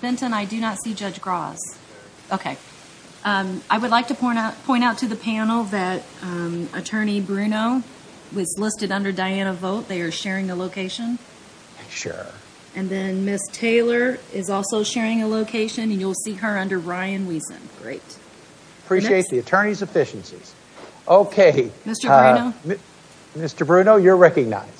Benton, I do not see Judge Gross. Okay. I would like to point out to the panel that Attorney Bruno was listed under Diana Vogt. They are sharing a location. Sure. And then Ms. Taylor is also sharing a location and you'll see her under Ryan Wiesen. Great. Appreciate the attorney's efficiencies. Okay. Mr. Bruno. Mr. Bruno, you're recognized.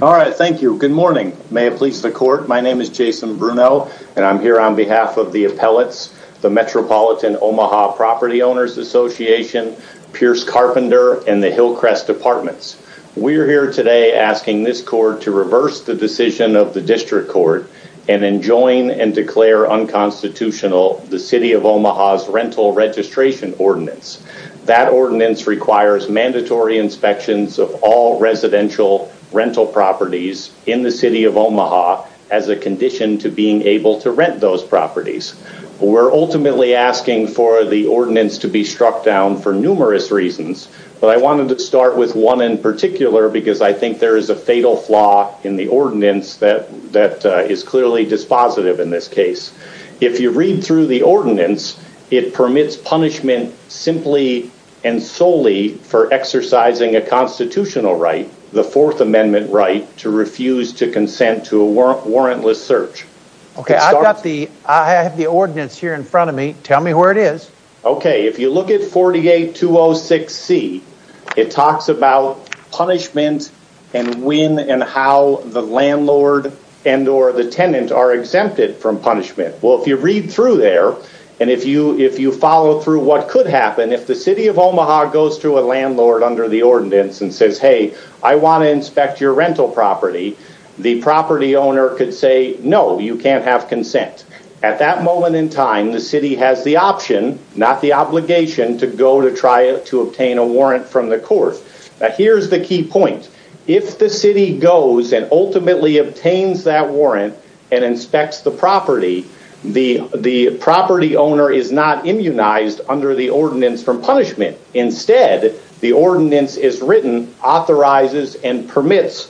All right. Thank you. Good morning. May it please the court. My name is Jason Bruno and I'm here on behalf of the appellates, the Metropolitan Omaha Property Owners Association, Pierce Carpenter and the Hillcrest Departments. We're here today asking this court to reverse the decision of the district court and then join and declare unconstitutional the City of Omaha's rental registration ordinance. That ordinance requires mandatory inspections of all residential rental properties in the City of Omaha as a condition to being able to rent those properties. We're ultimately asking for the ordinance to be struck down for numerous reasons, but I wanted to start with one in particular because I think there is a fatal flaw in the ordinance that is clearly dispositive in this case. If you read through the ordinance, it permits punishment simply and solely for exercising a constitutional right, the fourth amendment right to refuse to consent to a warrantless search. Okay. I've got the, I have the ordinance here in front of me. Tell me where it is. Okay. If you look at 48206C, it talks about punishment and when and how the landlord and or the tenant are exempted from punishment. Well, if you read through there and if you follow through what could happen, if the City of Omaha goes to a landlord under the ordinance and says, hey, I want to inspect your rental property, the property owner could say, no, you can't have consent. At that moment in time, the city has the option, not the obligation to go to try to obtain a warrant from the court. Here's the key point. If the city goes and ultimately obtains that warrant and inspects the property, the property owner is not immunized under the ordinance from punishment. Instead, the ordinance is written, authorizes and permits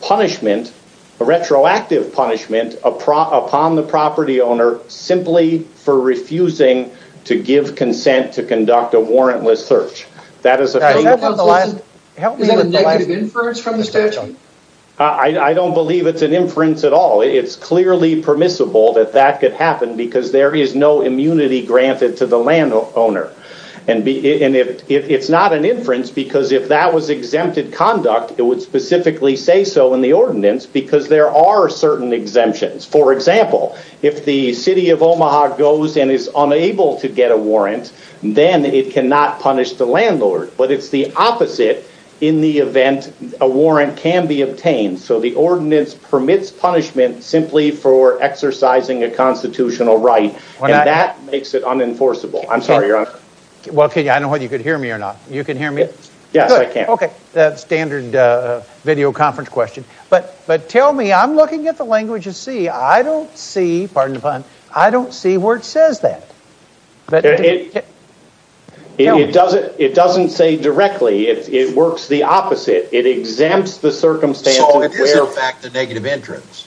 punishment, a retroactive punishment upon the property owner simply for refusing to give consent to conduct a warrantless search. Is that a negative inference from the statute? I don't believe it's an inference at all. It's clearly permissible that that could happen because there is no immunity granted to the landowner. It's not an inference because if that was exempted conduct, it would specifically say so in the ordinance because there are certain exemptions. For example, if the City of Omaha goes and is unable to get a warrant, then it cannot punish the landlord. But it's the opposite in the event a warrant can be obtained. So the ordinance permits punishment simply for exercising a constitutional right. And that makes it unenforceable. I'm sorry, Your Honor. Well, I don't know whether you can hear me or not. You can hear me? Yes, I can. Okay. Standard video conference question. But tell me, I'm looking at the language of C. I don't see, pardon the pun, I don't see where it says that. It doesn't say directly. It works the opposite. It exempts the circumstance. So it is, in fact, a negative entrance.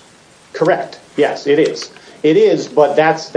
Correct. Yes, it is. It is, but that's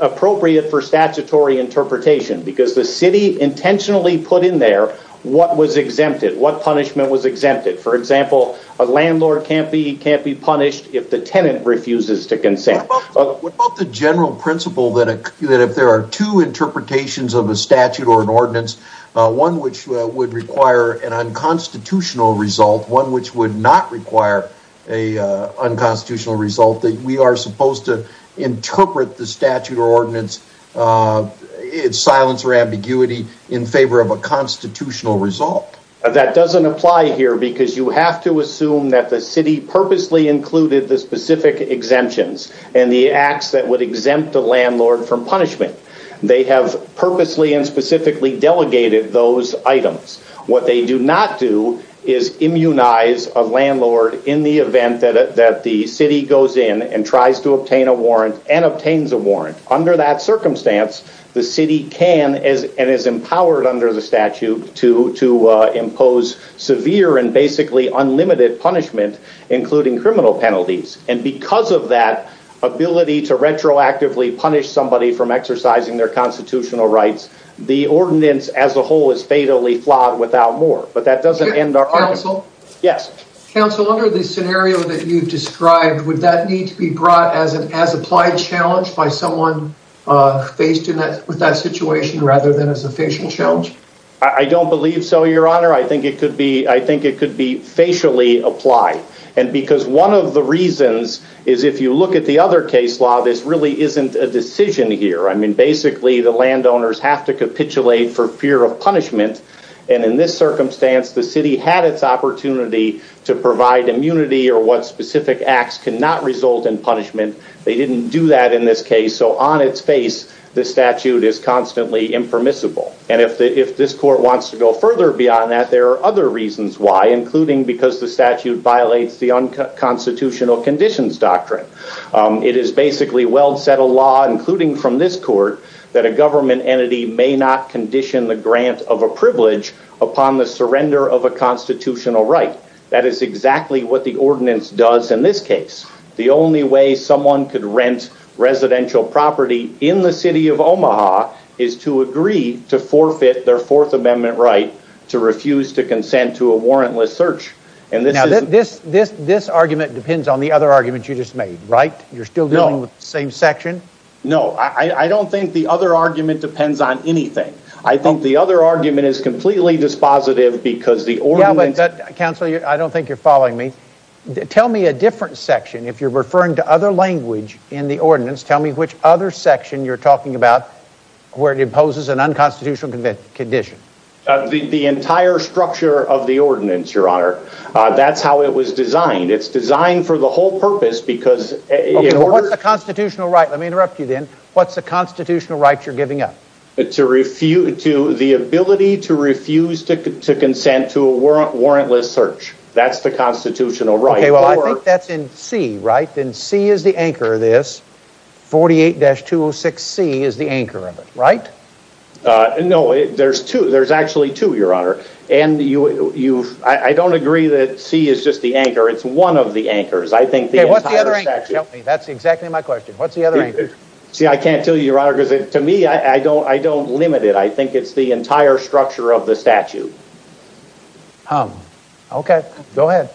appropriate for statutory interpretation because the city intentionally put in there what was exempted, what punishment was exempted. For example, a landlord can't be punished if the tenant refuses to consent. What about the general principle that if there are two interpretations of a statute or an ordinance, one which would require an unconstitutional result, one which would not require a unconstitutional result, that we are supposed to interpret the statute or ordinance, silence or ambiguity, in favor of a constitutional result? That doesn't apply here because you have to assume that the city purposely included the specific exemptions and the acts that would exempt a landlord from punishment. They have purposely and specifically delegated those items. What they do not do is immunize a landlord in the event that the city goes in and tries to obtain a warrant and obtains a warrant. Under that circumstance, the city can and is empowered under the statute to impose severe and basically unlimited punishment, including criminal penalties. And because of that ability to retroactively punish somebody from exercising their constitutional rights, the ordinance as a whole is fatally flawed without more. But that doesn't end our argument. Yes. Counsel, under the scenario that you've described, would that need to be brought as an as applied challenge by someone faced with that situation rather than as a facial challenge? I don't believe so, your honor. I think it could be facially applied. And because one of the reasons is if you look at the other case law, this really isn't a decision here. I mean, basically, the landowners have to capitulate for fear of punishment. And in this circumstance, the city had its opportunity to provide immunity or what specific acts cannot result in punishment. They didn't do that in this case. So on its face, the statute is constantly impermissible. And if this court wants to go further beyond that, there are other reasons why, including because the statute violates the unconstitutional conditions doctrine. It is basically well set a law, including from this court, that a government entity may not condition the grant of a privilege upon the surrender of a constitutional right. That is exactly what the ordinance does in this case. The only way someone could rent residential property in the city of Omaha is to agree to forfeit their fourth amendment right to refuse to consent to a warrantless search. And this argument depends on the other argument you just made, right? You're still dealing with the same section? No, I don't think the other argument depends on anything. I think the other argument is completely dispositive because the ordinance... Yeah, but counsel, I don't think you're following me. Tell me a different section. If you're referring to other language in the ordinance, tell me which other section you're talking about where it imposes an unconstitutional condition. The entire structure of the ordinance, your honor. That's how it was designed. It's designed for the whole purpose because... Let me interrupt you then. What's the constitutional right you're giving up? The ability to refuse to consent to a warrantless search. That's the constitutional right. Okay, well, I think that's in C, right? Then C is the anchor of this. 48-206C is the anchor of it, right? No, there's two. There's actually two, your honor. And I don't agree that C is just the anchor. It's one of the anchors. What's the other anchor? That's exactly my question. What's the other anchor? See, I can't tell you, your honor, because to me, I don't limit it. I think it's the entire structure of the statute. Okay, go ahead.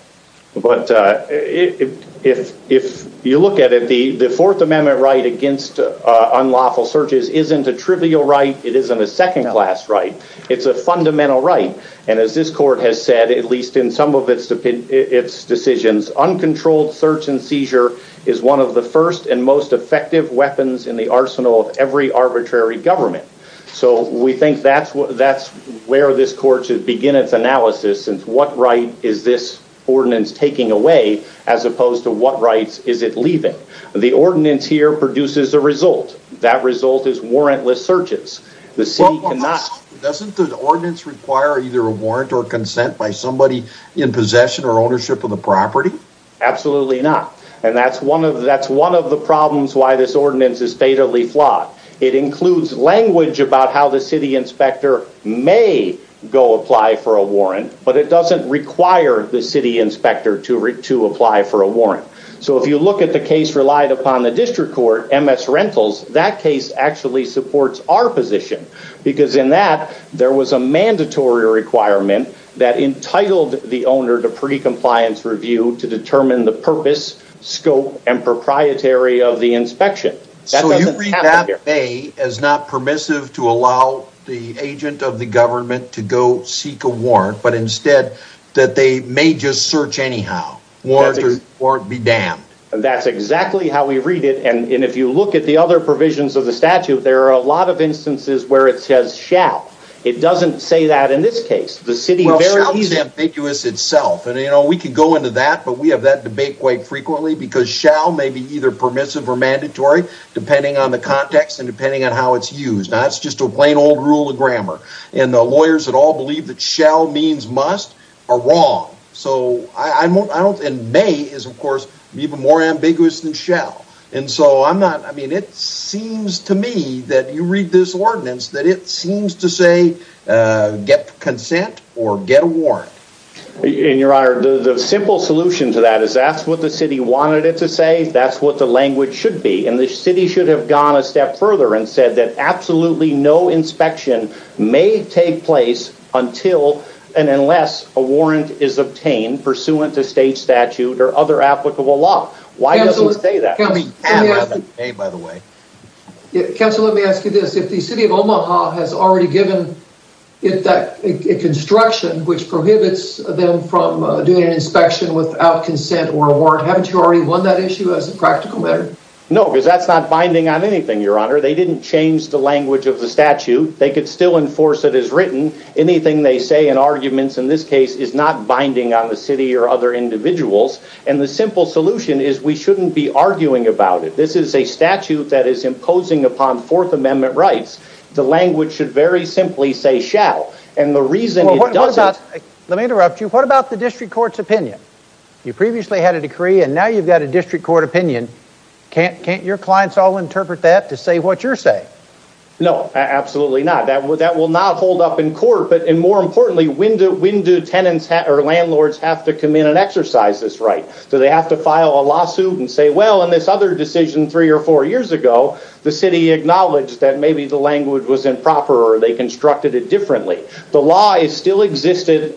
But if you look at it, the Fourth Amendment right against unlawful searches isn't a trivial right. It isn't a second-class right. It's a fundamental right. And as this court has said, at least in its decisions, uncontrolled search and seizure is one of the first and most effective weapons in the arsenal of every arbitrary government. So we think that's where this court should begin its analysis, since what right is this ordinance taking away as opposed to what rights is it leaving? The ordinance here produces a result. That result is warrantless searches. The city Doesn't the ordinance require either a warrant or consent by somebody in possession or ownership of the property? Absolutely not. And that's one of the problems why this ordinance is fatally flawed. It includes language about how the city inspector may go apply for a warrant, but it doesn't require the city inspector to apply for a warrant. So if you look at the case our position, because in that, there was a mandatory requirement that entitled the owner to pre-compliance review to determine the purpose, scope, and proprietary of the inspection. So you read that as not permissive to allow the agent of the government to go seek a warrant, but instead that they may just search anyhow, warrant be damned. That's exactly how we read it. And if you look at the other provisions of the statute, there are a lot of instances where it says shall. It doesn't say that in this case, the city is ambiguous itself. And, you know, we can go into that, but we have that debate quite frequently because shall may be either permissive or mandatory depending on the context and depending on how it's used. Now it's just a plain old rule of grammar and the lawyers that believe that shall means must are wrong. So I won't, I don't, and may is of course even more ambiguous than shall. And so I'm not, I mean, it seems to me that you read this ordinance, that it seems to say get consent or get a warrant. And your honor, the simple solution to that is that's what the city wanted it to say. That's what the language should be. And the city should have gone a step further and said that absolutely no inspection may take place until and unless a warrant is obtained pursuant to state statute or other applicable law. Why does it say that? Counselor, let me ask you this. If the city of Omaha has already given it that construction, which prohibits them from doing an inspection without consent or a warrant, haven't you already won that issue as a practical matter? No, because that's not binding on anything, your honor. They didn't change the language of the statute. They could still enforce it as written. Anything they say in arguments in this case is not binding on the city or other individuals. And the simple solution is we shouldn't be arguing about it. This is a statute that is imposing upon fourth amendment rights. The language should very simply say shall. And the reason it doesn't... Let me interrupt you. What about the district court's opinion? You previously had a decree and now you've got a district court opinion. Can't your clients all interpret that to say what you're saying? No, absolutely not. That will not hold up in court. But more importantly, when do tenants or landlords have to come in and exercise this right? Do they have to file a lawsuit and say, well, in this other decision three or four years ago, the city acknowledged that maybe the language was improper or they constructed it differently. The law is still existing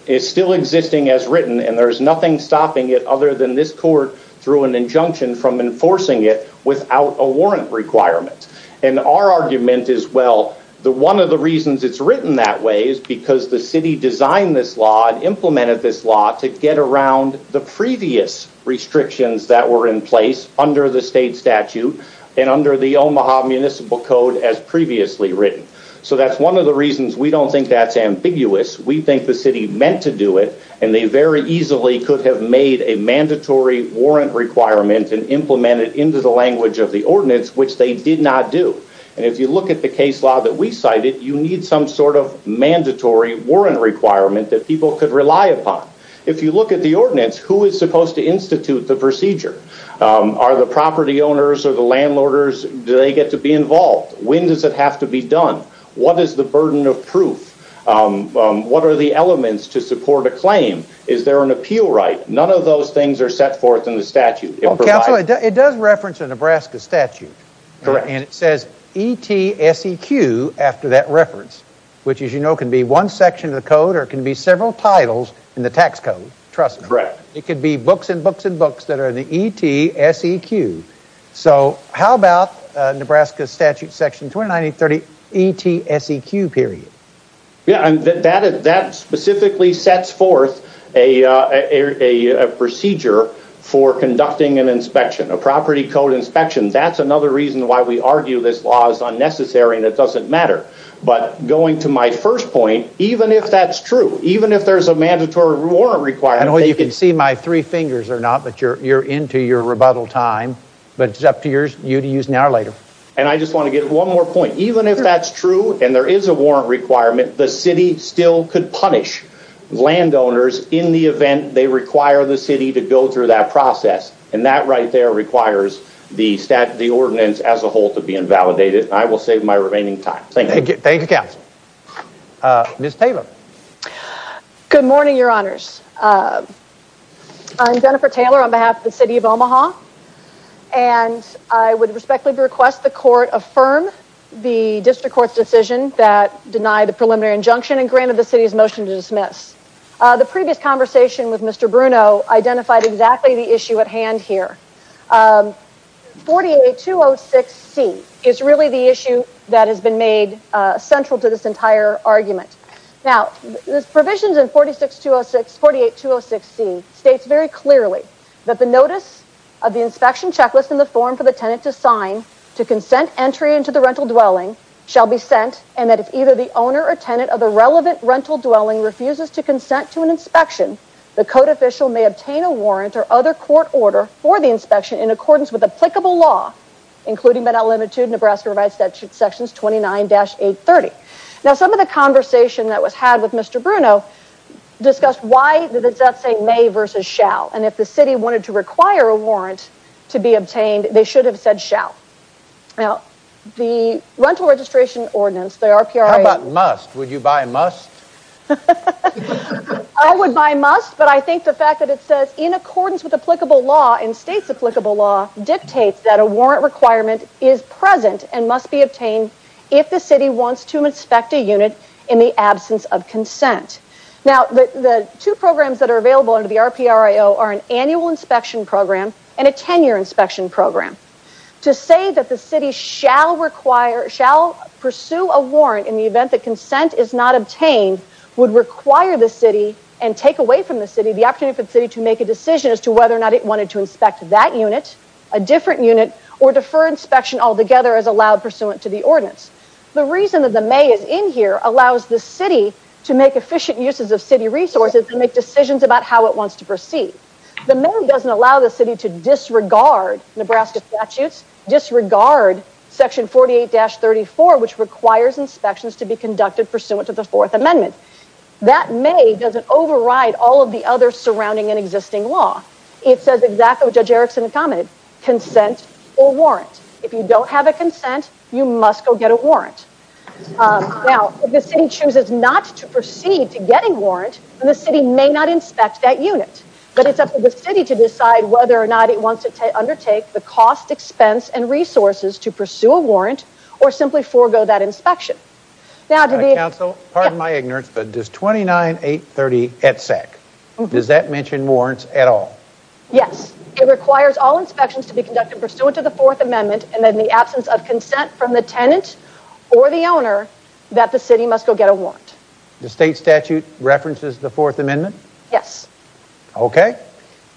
as written and there's nothing stopping it other than this court through an injunction from without a warrant requirement. And our argument is, well, one of the reasons it's written that way is because the city designed this law and implemented this law to get around the previous restrictions that were in place under the state statute and under the Omaha municipal code as previously written. So that's one of the reasons we don't think that's ambiguous. We think the city meant to do it and they very easily could have made a mandatory warrant requirement and implemented into the language of the ordinance, which they did not do. And if you look at the case law that we cited, you need some sort of mandatory warrant requirement that people could rely upon. If you look at the ordinance, who is supposed to institute the procedure? Are the property owners or the landlords, do they get to be involved? When does it have to be done? What is the burden of proof? What are the elements to support a claim? Is there an appeal right? None of those things are set forth in the statute. It does reference a Nebraska statute and it says ETSEQ after that reference, which as you know can be one section of the code or it can be several titles in the tax code, trust me. It could be books and books and books that are in the ETSEQ. So how about Nebraska statute section 29830 ETSEQ period? Yeah, that specifically sets forth a procedure for conducting an inspection, a property code inspection. That's another reason why we argue this law is unnecessary and it doesn't matter. But going to my first point, even if that's true, even if there's a mandatory warrant requirement. I know you can see my three fingers or not, but you're into your rebuttal time, but it's up to you to use now or later. And I just want to get one more point. Even if that's true and there is a warrant requirement, the city still could punish landowners in the event they require the city to go through that process. And that right there requires the ordinance as a whole to be invalidated. I will save my remaining time. Thank you. Thank you, counsel. Ms. Taylor. Good morning, your honors. I'm Jennifer Taylor on behalf of the city of Omaha. And I would respectfully request the injunction and grant of the city's motion to dismiss. The previous conversation with Mr. Bruno identified exactly the issue at hand here. 48206C is really the issue that has been made central to this entire argument. Now, this provisions in 48206C states very clearly that the notice of the inspection checklist in the form for the tenant to sign to consent entry into the rental dwelling shall be sent, and that if either the owner or tenant of the relevant rental dwelling refuses to consent to an inspection, the code official may obtain a warrant or other court order for the inspection in accordance with applicable law, including Med-El Limitude, Nebraska Rights Statute, sections 29-830. Now, some of the conversation that was had with Mr. Bruno discussed why the death say may versus shall. And if the city wanted to require a Now, the Rental Registration Ordinance, the RPRIO... How about must? Would you buy must? I would buy must, but I think the fact that it says in accordance with applicable law and states applicable law dictates that a warrant requirement is present and must be obtained if the city wants to inspect a unit in the absence of consent. Now, the two programs that are available under the RPRIO are an annual inspection program and a 10-year inspection program. To say that the city shall pursue a warrant in the event that consent is not obtained would require the city and take away from the city the opportunity for the city to make a decision as to whether or not it wanted to inspect that unit, a different unit, or defer inspection altogether as allowed pursuant to the ordinance. The reason that the may is in here allows the city to make efficient uses of city resources to make decisions about how it wants to proceed. The may doesn't allow the city to disregard Nebraska statutes, disregard section 48-34 which requires inspections to be conducted pursuant to the fourth amendment. That may doesn't override all of the other surrounding and existing law. It says exactly what Judge Erickson commented, consent or warrant. If you don't have a consent, you must go get a warrant. Now, if the city chooses not to proceed to getting warrant, then the city may not inspect that unit, but it's up to the city to decide whether or not it wants to undertake the cost, expense, and resources to pursue a warrant or simply forego that inspection. Counsel, pardon my ignorance, but does 29-830-ETSEC, does that mention warrants at all? Yes, it requires all inspections to be conducted pursuant to the fourth amendment and in the tenant or the owner that the city must go get a warrant. The state statute references the fourth amendment? Yes. Okay,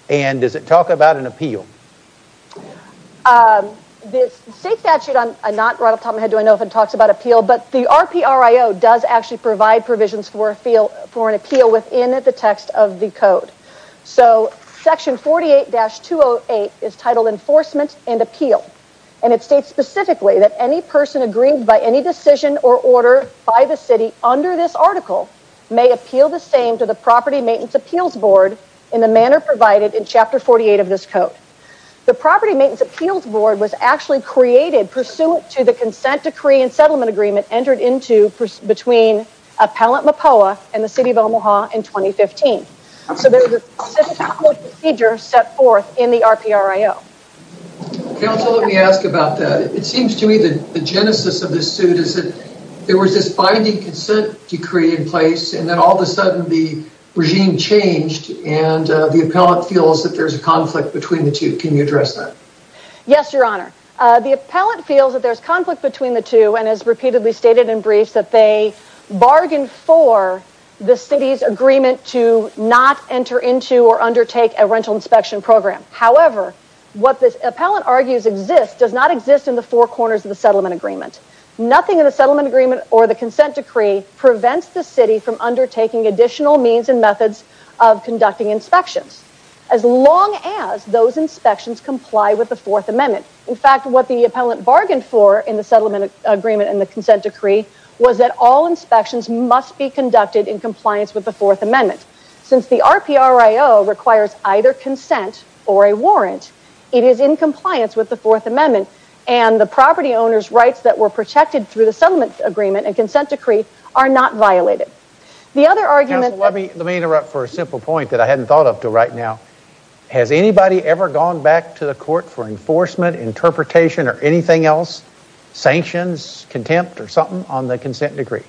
and does it talk about an appeal? The state statute, I'm not right off the top of my head to know if it talks about appeal, but the RPRIO does actually provide provisions for an appeal within the text of the code. So, section 48-208 is titled enforcement and appeal and it states specifically that any person agreed by any decision or order by the city under this article may appeal the same to the property maintenance appeals board in the manner provided in chapter 48 of this code. The property maintenance appeals board was actually created pursuant to the consent decree and settlement agreement entered into between Appellant Mopoa and the City of Omaha in 2015. So, there's a procedure set forth in the RPRIO. Counsel, let me ask about that. It seems to me that the genesis of this suit is that there was this binding consent decree in place and then all of a sudden the regime changed and the appellant feels that there's a conflict between the two. Can you address that? Yes, your honor. The appellant feels that there's conflict between the two and has repeatedly stated in briefs that they bargained for the city's agreement to not enter into or undertake a settlement agreement. What this appellant argues exists does not exist in the four corners of the settlement agreement. Nothing in the settlement agreement or the consent decree prevents the city from undertaking additional means and methods of conducting inspections as long as those inspections comply with the fourth amendment. In fact, what the appellant bargained for in the settlement agreement and the consent decree was that all inspections must be conducted in compliance with the fourth amendment. Since the RPRIO requires either consent or a warrant, it is in compliance with the fourth amendment and the property owner's rights that were protected through the settlement agreement and consent decree are not violated. The other argument... Counsel, let me interrupt for a simple point that I hadn't thought of till right now. Has anybody ever gone back to the court for enforcement, interpretation, or anything else, sanctions, contempt, or something on the consent decree?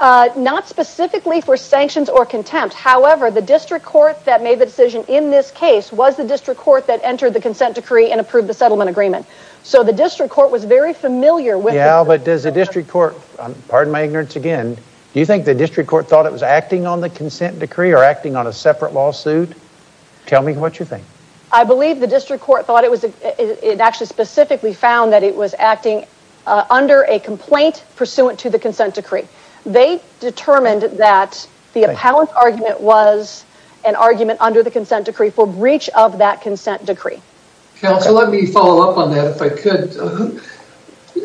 Not specifically for sanctions or contempt. However, the district court that made the decision in this case was the district court that entered the consent decree and approved the settlement agreement. So the district court was very familiar with... Yeah, but does the district court, pardon my ignorance again, do you think the district court thought it was acting on the consent decree or acting on a separate lawsuit? Tell me what you think. I believe the district court thought it was, it actually specifically found that it was acting under a complaint pursuant to the consent decree. They determined that the appellant's argument was an argument under the consent decree for breach of that consent decree. Counsel, let me follow up on that if I could.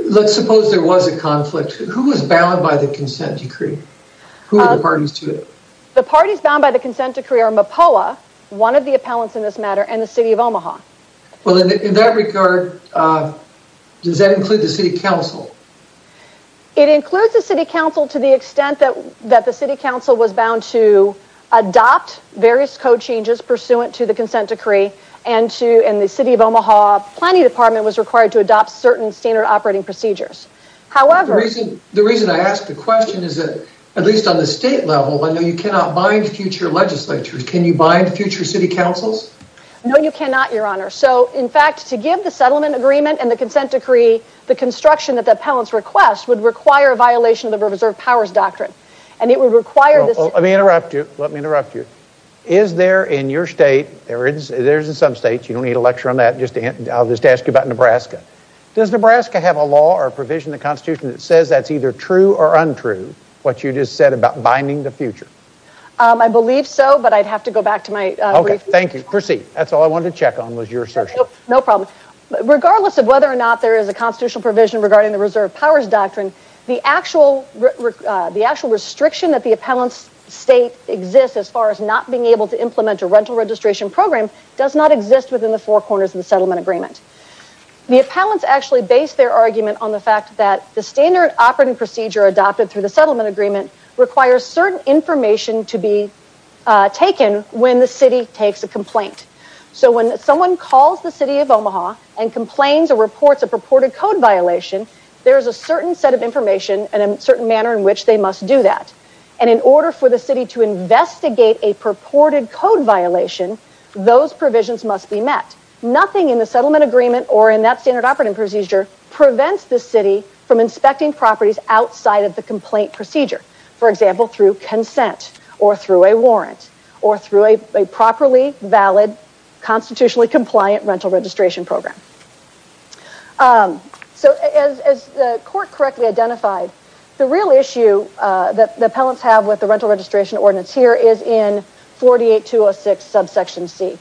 Let's suppose there was a conflict. Who was bound by the consent decree? Who were the parties to it? The parties bound by the consent decree are MOPOA, one of the appellants in this matter, and the city of Omaha. Well, in that regard, does that include the city council? It includes the city council to the extent that the city council was bound to adopt various code changes pursuant to the consent decree and the city of Omaha planning department was required to adopt certain standard operating procedures. However... The reason I ask the question is that, at least on the state level, I know you cannot bind future legislatures. Can you bind future city councils? No, you cannot, your honor. So, in fact, to give the settlement agreement and reserve powers doctrine and it would require... Let me interrupt you. Is there in your state, there is in some states, you don't need a lecture on that. I'll just ask you about Nebraska. Does Nebraska have a law or a provision in the constitution that says that's either true or untrue, what you just said about binding the future? I believe so, but I'd have to go back to my brief. Okay, thank you. Proceed. That's all I wanted to check on was your assertion. No problem. Regardless of whether or not there is a constitutional provision regarding the reserve powers doctrine, the actual restriction that the appellant's state exists as far as not being able to implement a rental registration program does not exist within the four corners of the settlement agreement. The appellants actually base their argument on the fact that the standard operating procedure adopted through the settlement agreement requires certain information to be taken when the city takes a complaint. So when someone calls the city of Omaha and complains or reports a purported code violation, there is a certain set of information and a certain manner in which they must do that. And in order for the city to investigate a purported code violation, those provisions must be met. Nothing in the settlement agreement or in that standard operating procedure prevents the city from inspecting properties outside of the complaint procedure. For example, through consent or through a warrant or through a properly valid constitutionally binding program. So as the court correctly identified, the real issue that the appellants have with the rental registration ordinance here is in 48206 subsection C.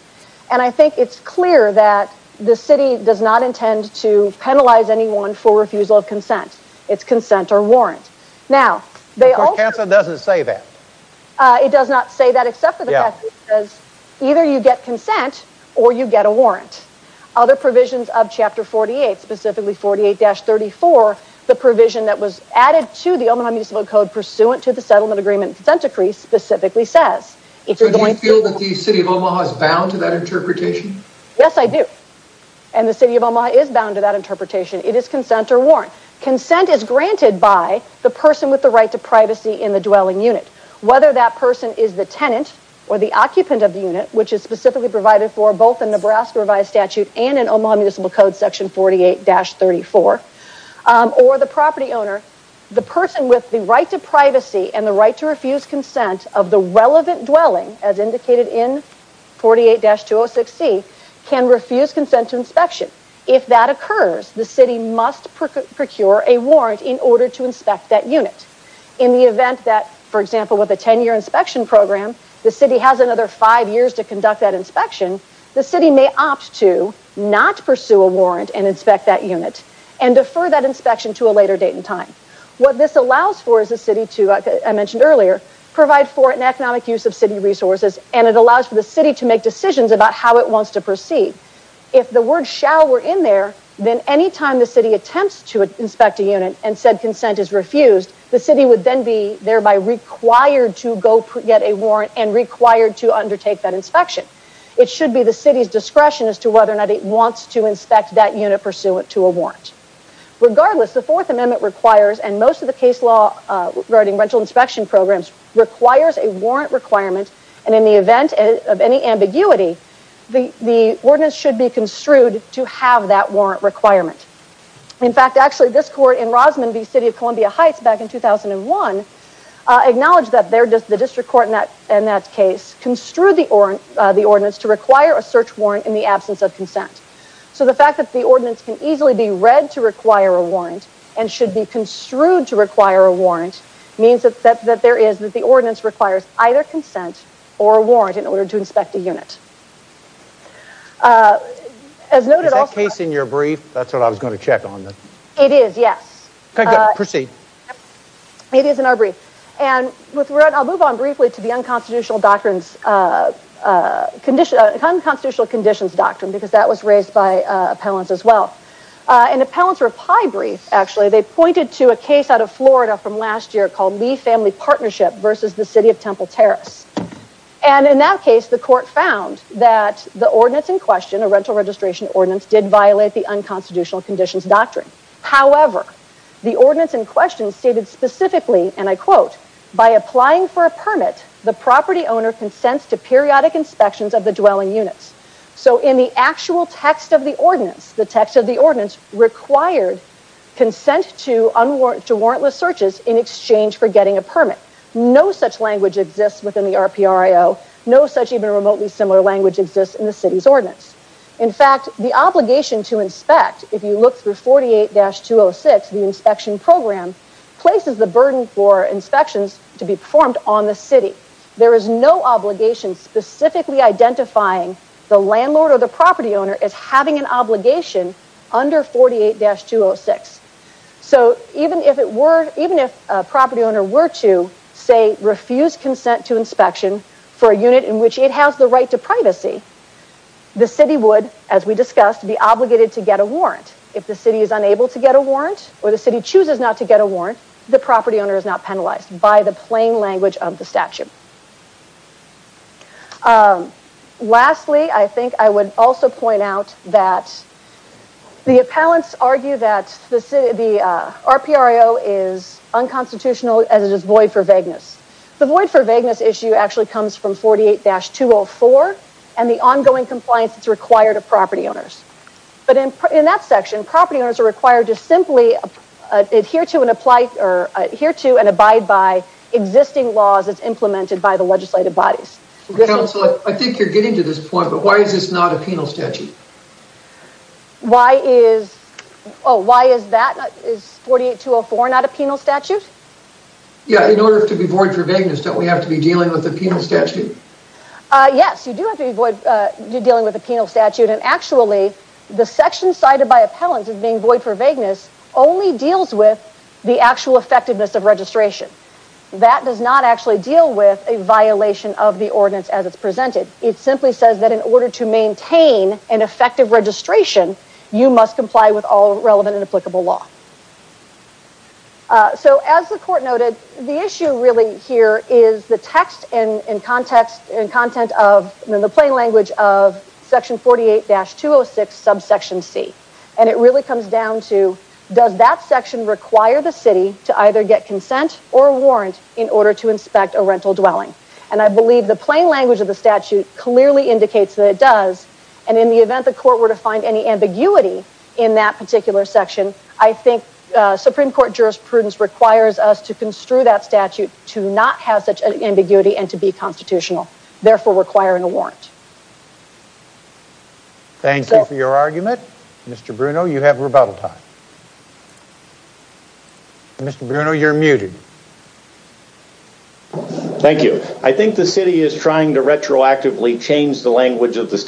And I think it's clear that the city does not intend to penalize anyone for refusal of consent. It's consent or warrant. Now, they also... Kansas doesn't say that. It does not say that except for the fact that it says either you get consent or you get a warrant. Other provisions of chapter 48, specifically 48-34, the provision that was added to the Omaha Municipal Code pursuant to the settlement agreement and consent decree specifically says... So do you feel that the city of Omaha is bound to that interpretation? Yes, I do. And the city of Omaha is bound to that interpretation. It is consent or warrant. Consent is granted by the person with the right to privacy in the dwelling unit. Whether that person is the tenant or the occupant of the unit, which is specifically provided for both in Nebraska Revised Statute and in Omaha Municipal Code section 48-34, or the property owner, the person with the right to privacy and the right to refuse consent of the relevant dwelling, as indicated in 48-206C, can refuse consent to inspection. If that occurs, the city must procure a warrant in order to inspect that unit. In the event that, for example, with a 10-year inspection program, the city has another five years to conduct that inspection, the city may opt to not pursue a warrant and inspect that unit and defer that inspection to a later date and time. What this allows for is the city to, as I mentioned earlier, provide for an economic use of city resources and it allows for the city to make decisions about how it wants to proceed. If the word shall were in there, then any time the city attempts to inspect a unit and said consent is and required to undertake that inspection. It should be the city's discretion as to whether or not it wants to inspect that unit pursuant to a warrant. Regardless, the Fourth Amendment requires, and most of the case law regarding rental inspection programs, requires a warrant requirement and in the event of any ambiguity, the ordinance should be construed to have that warrant requirement. In fact, actually this court in Rosman v. City of Columbia Heights back in 2001 acknowledged that the district court in that case construed the ordinance to require a search warrant in the absence of consent. So the fact that the ordinance can easily be read to require a warrant and should be construed to require a warrant means that the ordinance requires either consent or a warrant in order to inspect a unit. Is that case in your brief? That's what I was and I'll move on briefly to the Unconstitutional Conditions Doctrine because that was raised by appellants as well. An appellant's reply brief actually, they pointed to a case out of Florida from last year called Lee Family Partnership versus the City of Temple Terrace and in that case the court found that the ordinance in question, a rental registration ordinance, did violate the Unconstitutional Conditions Doctrine. However, the ordinance in question stated specifically and I quote, by applying for a permit the property owner consents to periodic inspections of the dwelling units. So in the actual text of the ordinance, the text of the ordinance required consent to warrantless searches in exchange for getting a permit. No such language exists within the RPRIO. No such even remotely similar language exists in the city's ordinance. In fact, the obligation to inspect, if you look through 48-206 the inspection program, places the burden for inspections to be performed on the city. There is no obligation specifically identifying the landlord or the property owner as having an obligation under 48-206. So even if it were, even if a property owner were to say refuse consent to inspection for a unit in which it has the right to privacy, the city would, as we discussed, be obligated to get a warrant. If the city is unable to get a warrant or the city chooses not to get a warrant, the property owner is not penalized by the plain language of the statute. Lastly, I think I would also point out that the appellants argue that the RPRIO is unconstitutional as it is void for vagueness. The void for vagueness issue actually comes from 48-204 and the ongoing compliance that's required of property owners. But in that section, property owners are required to simply adhere to and apply or adhere to and abide by existing laws as implemented by the legislative bodies. Council, I think you're getting to this point, but why is this not a penal statute? Why is, oh why is that, is 48-204 not a penal statute? Yeah, in order to be void for vagueness don't we have to be dealing with a penal statute? Yes, you do have to be dealing with a penal statute and actually the section cited by appellants as being void for vagueness only deals with the actual effectiveness of registration. That does not actually deal with a violation of the ordinance as it's presented. It simply says that in order to maintain an effective registration, you must comply with all relevant and applicable law. So as the court noted, the issue really here is the text and context and content of the plain language of section 48-206 subsection C. And it really comes down to does that section require the city to either get consent or a warrant in order to inspect a rental dwelling? And I believe the plain language of the statute clearly indicates that it does and in the event court were to find any ambiguity in that particular section, I think Supreme Court jurisprudence requires us to construe that statute to not have such an ambiguity and to be constitutional, therefore requiring a warrant. Thank you for your argument. Mr. Bruno, you have rebuttal time. Mr. Bruno, you're muted. Thank you. I think the city is trying to retroactively change the language of the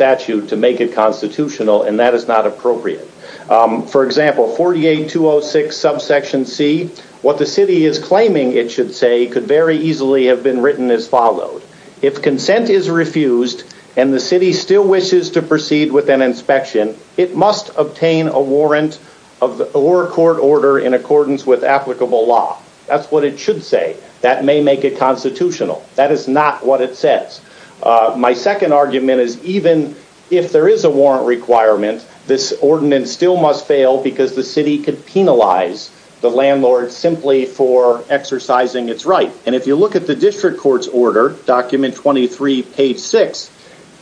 and that is not appropriate. For example, 48-206 subsection C, what the city is claiming it should say could very easily have been written as followed. If consent is refused and the city still wishes to proceed with an inspection, it must obtain a warrant or court order in accordance with applicable law. That's what it should say. That may make it constitutional. That is not what it says. My second argument is even if there is a warrant requirement, this ordinance still must fail because the city could penalize the landlord simply for exercising its right. And if you look at the district court's order, document 23 page 6,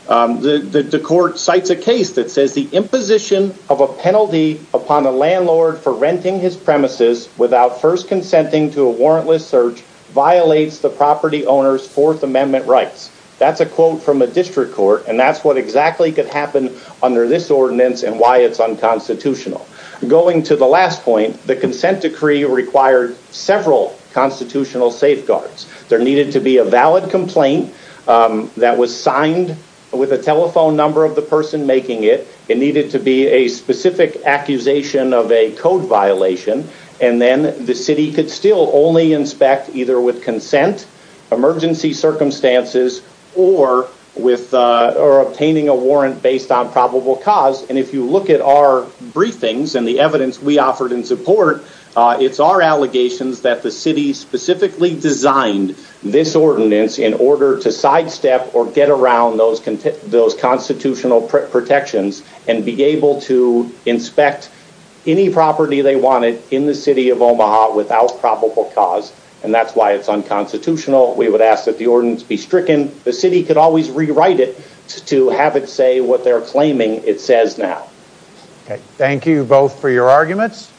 the court cites a case that says the imposition of a penalty upon a landlord for renting his premises without first consenting to a warrantless search violates the property owner's Fourth Amendment rights. That's a quote from a district court and that's what exactly could happen under this ordinance and why it's unconstitutional. Going to the last point, the consent decree required several constitutional safeguards. There needed to be a valid complaint that was signed with a telephone number of the person making it. It needed to be a specific accusation of a code violation and then the city could still only inspect either with consent, emergency circumstances, or obtaining a warrant based on probable cause. And if you look at our briefings and the evidence we offered in support, it's our allegations that the city specifically designed this ordinance in order to sidestep or get around those constitutional protections and be able to inspect any property they wanted in the city of Omaha without probable cause and that's why it's unconstitutional. We would ask that the ordinance be stricken. The city could always rewrite it to have it say what they're claiming it says now. Okay, thank you both for your arguments.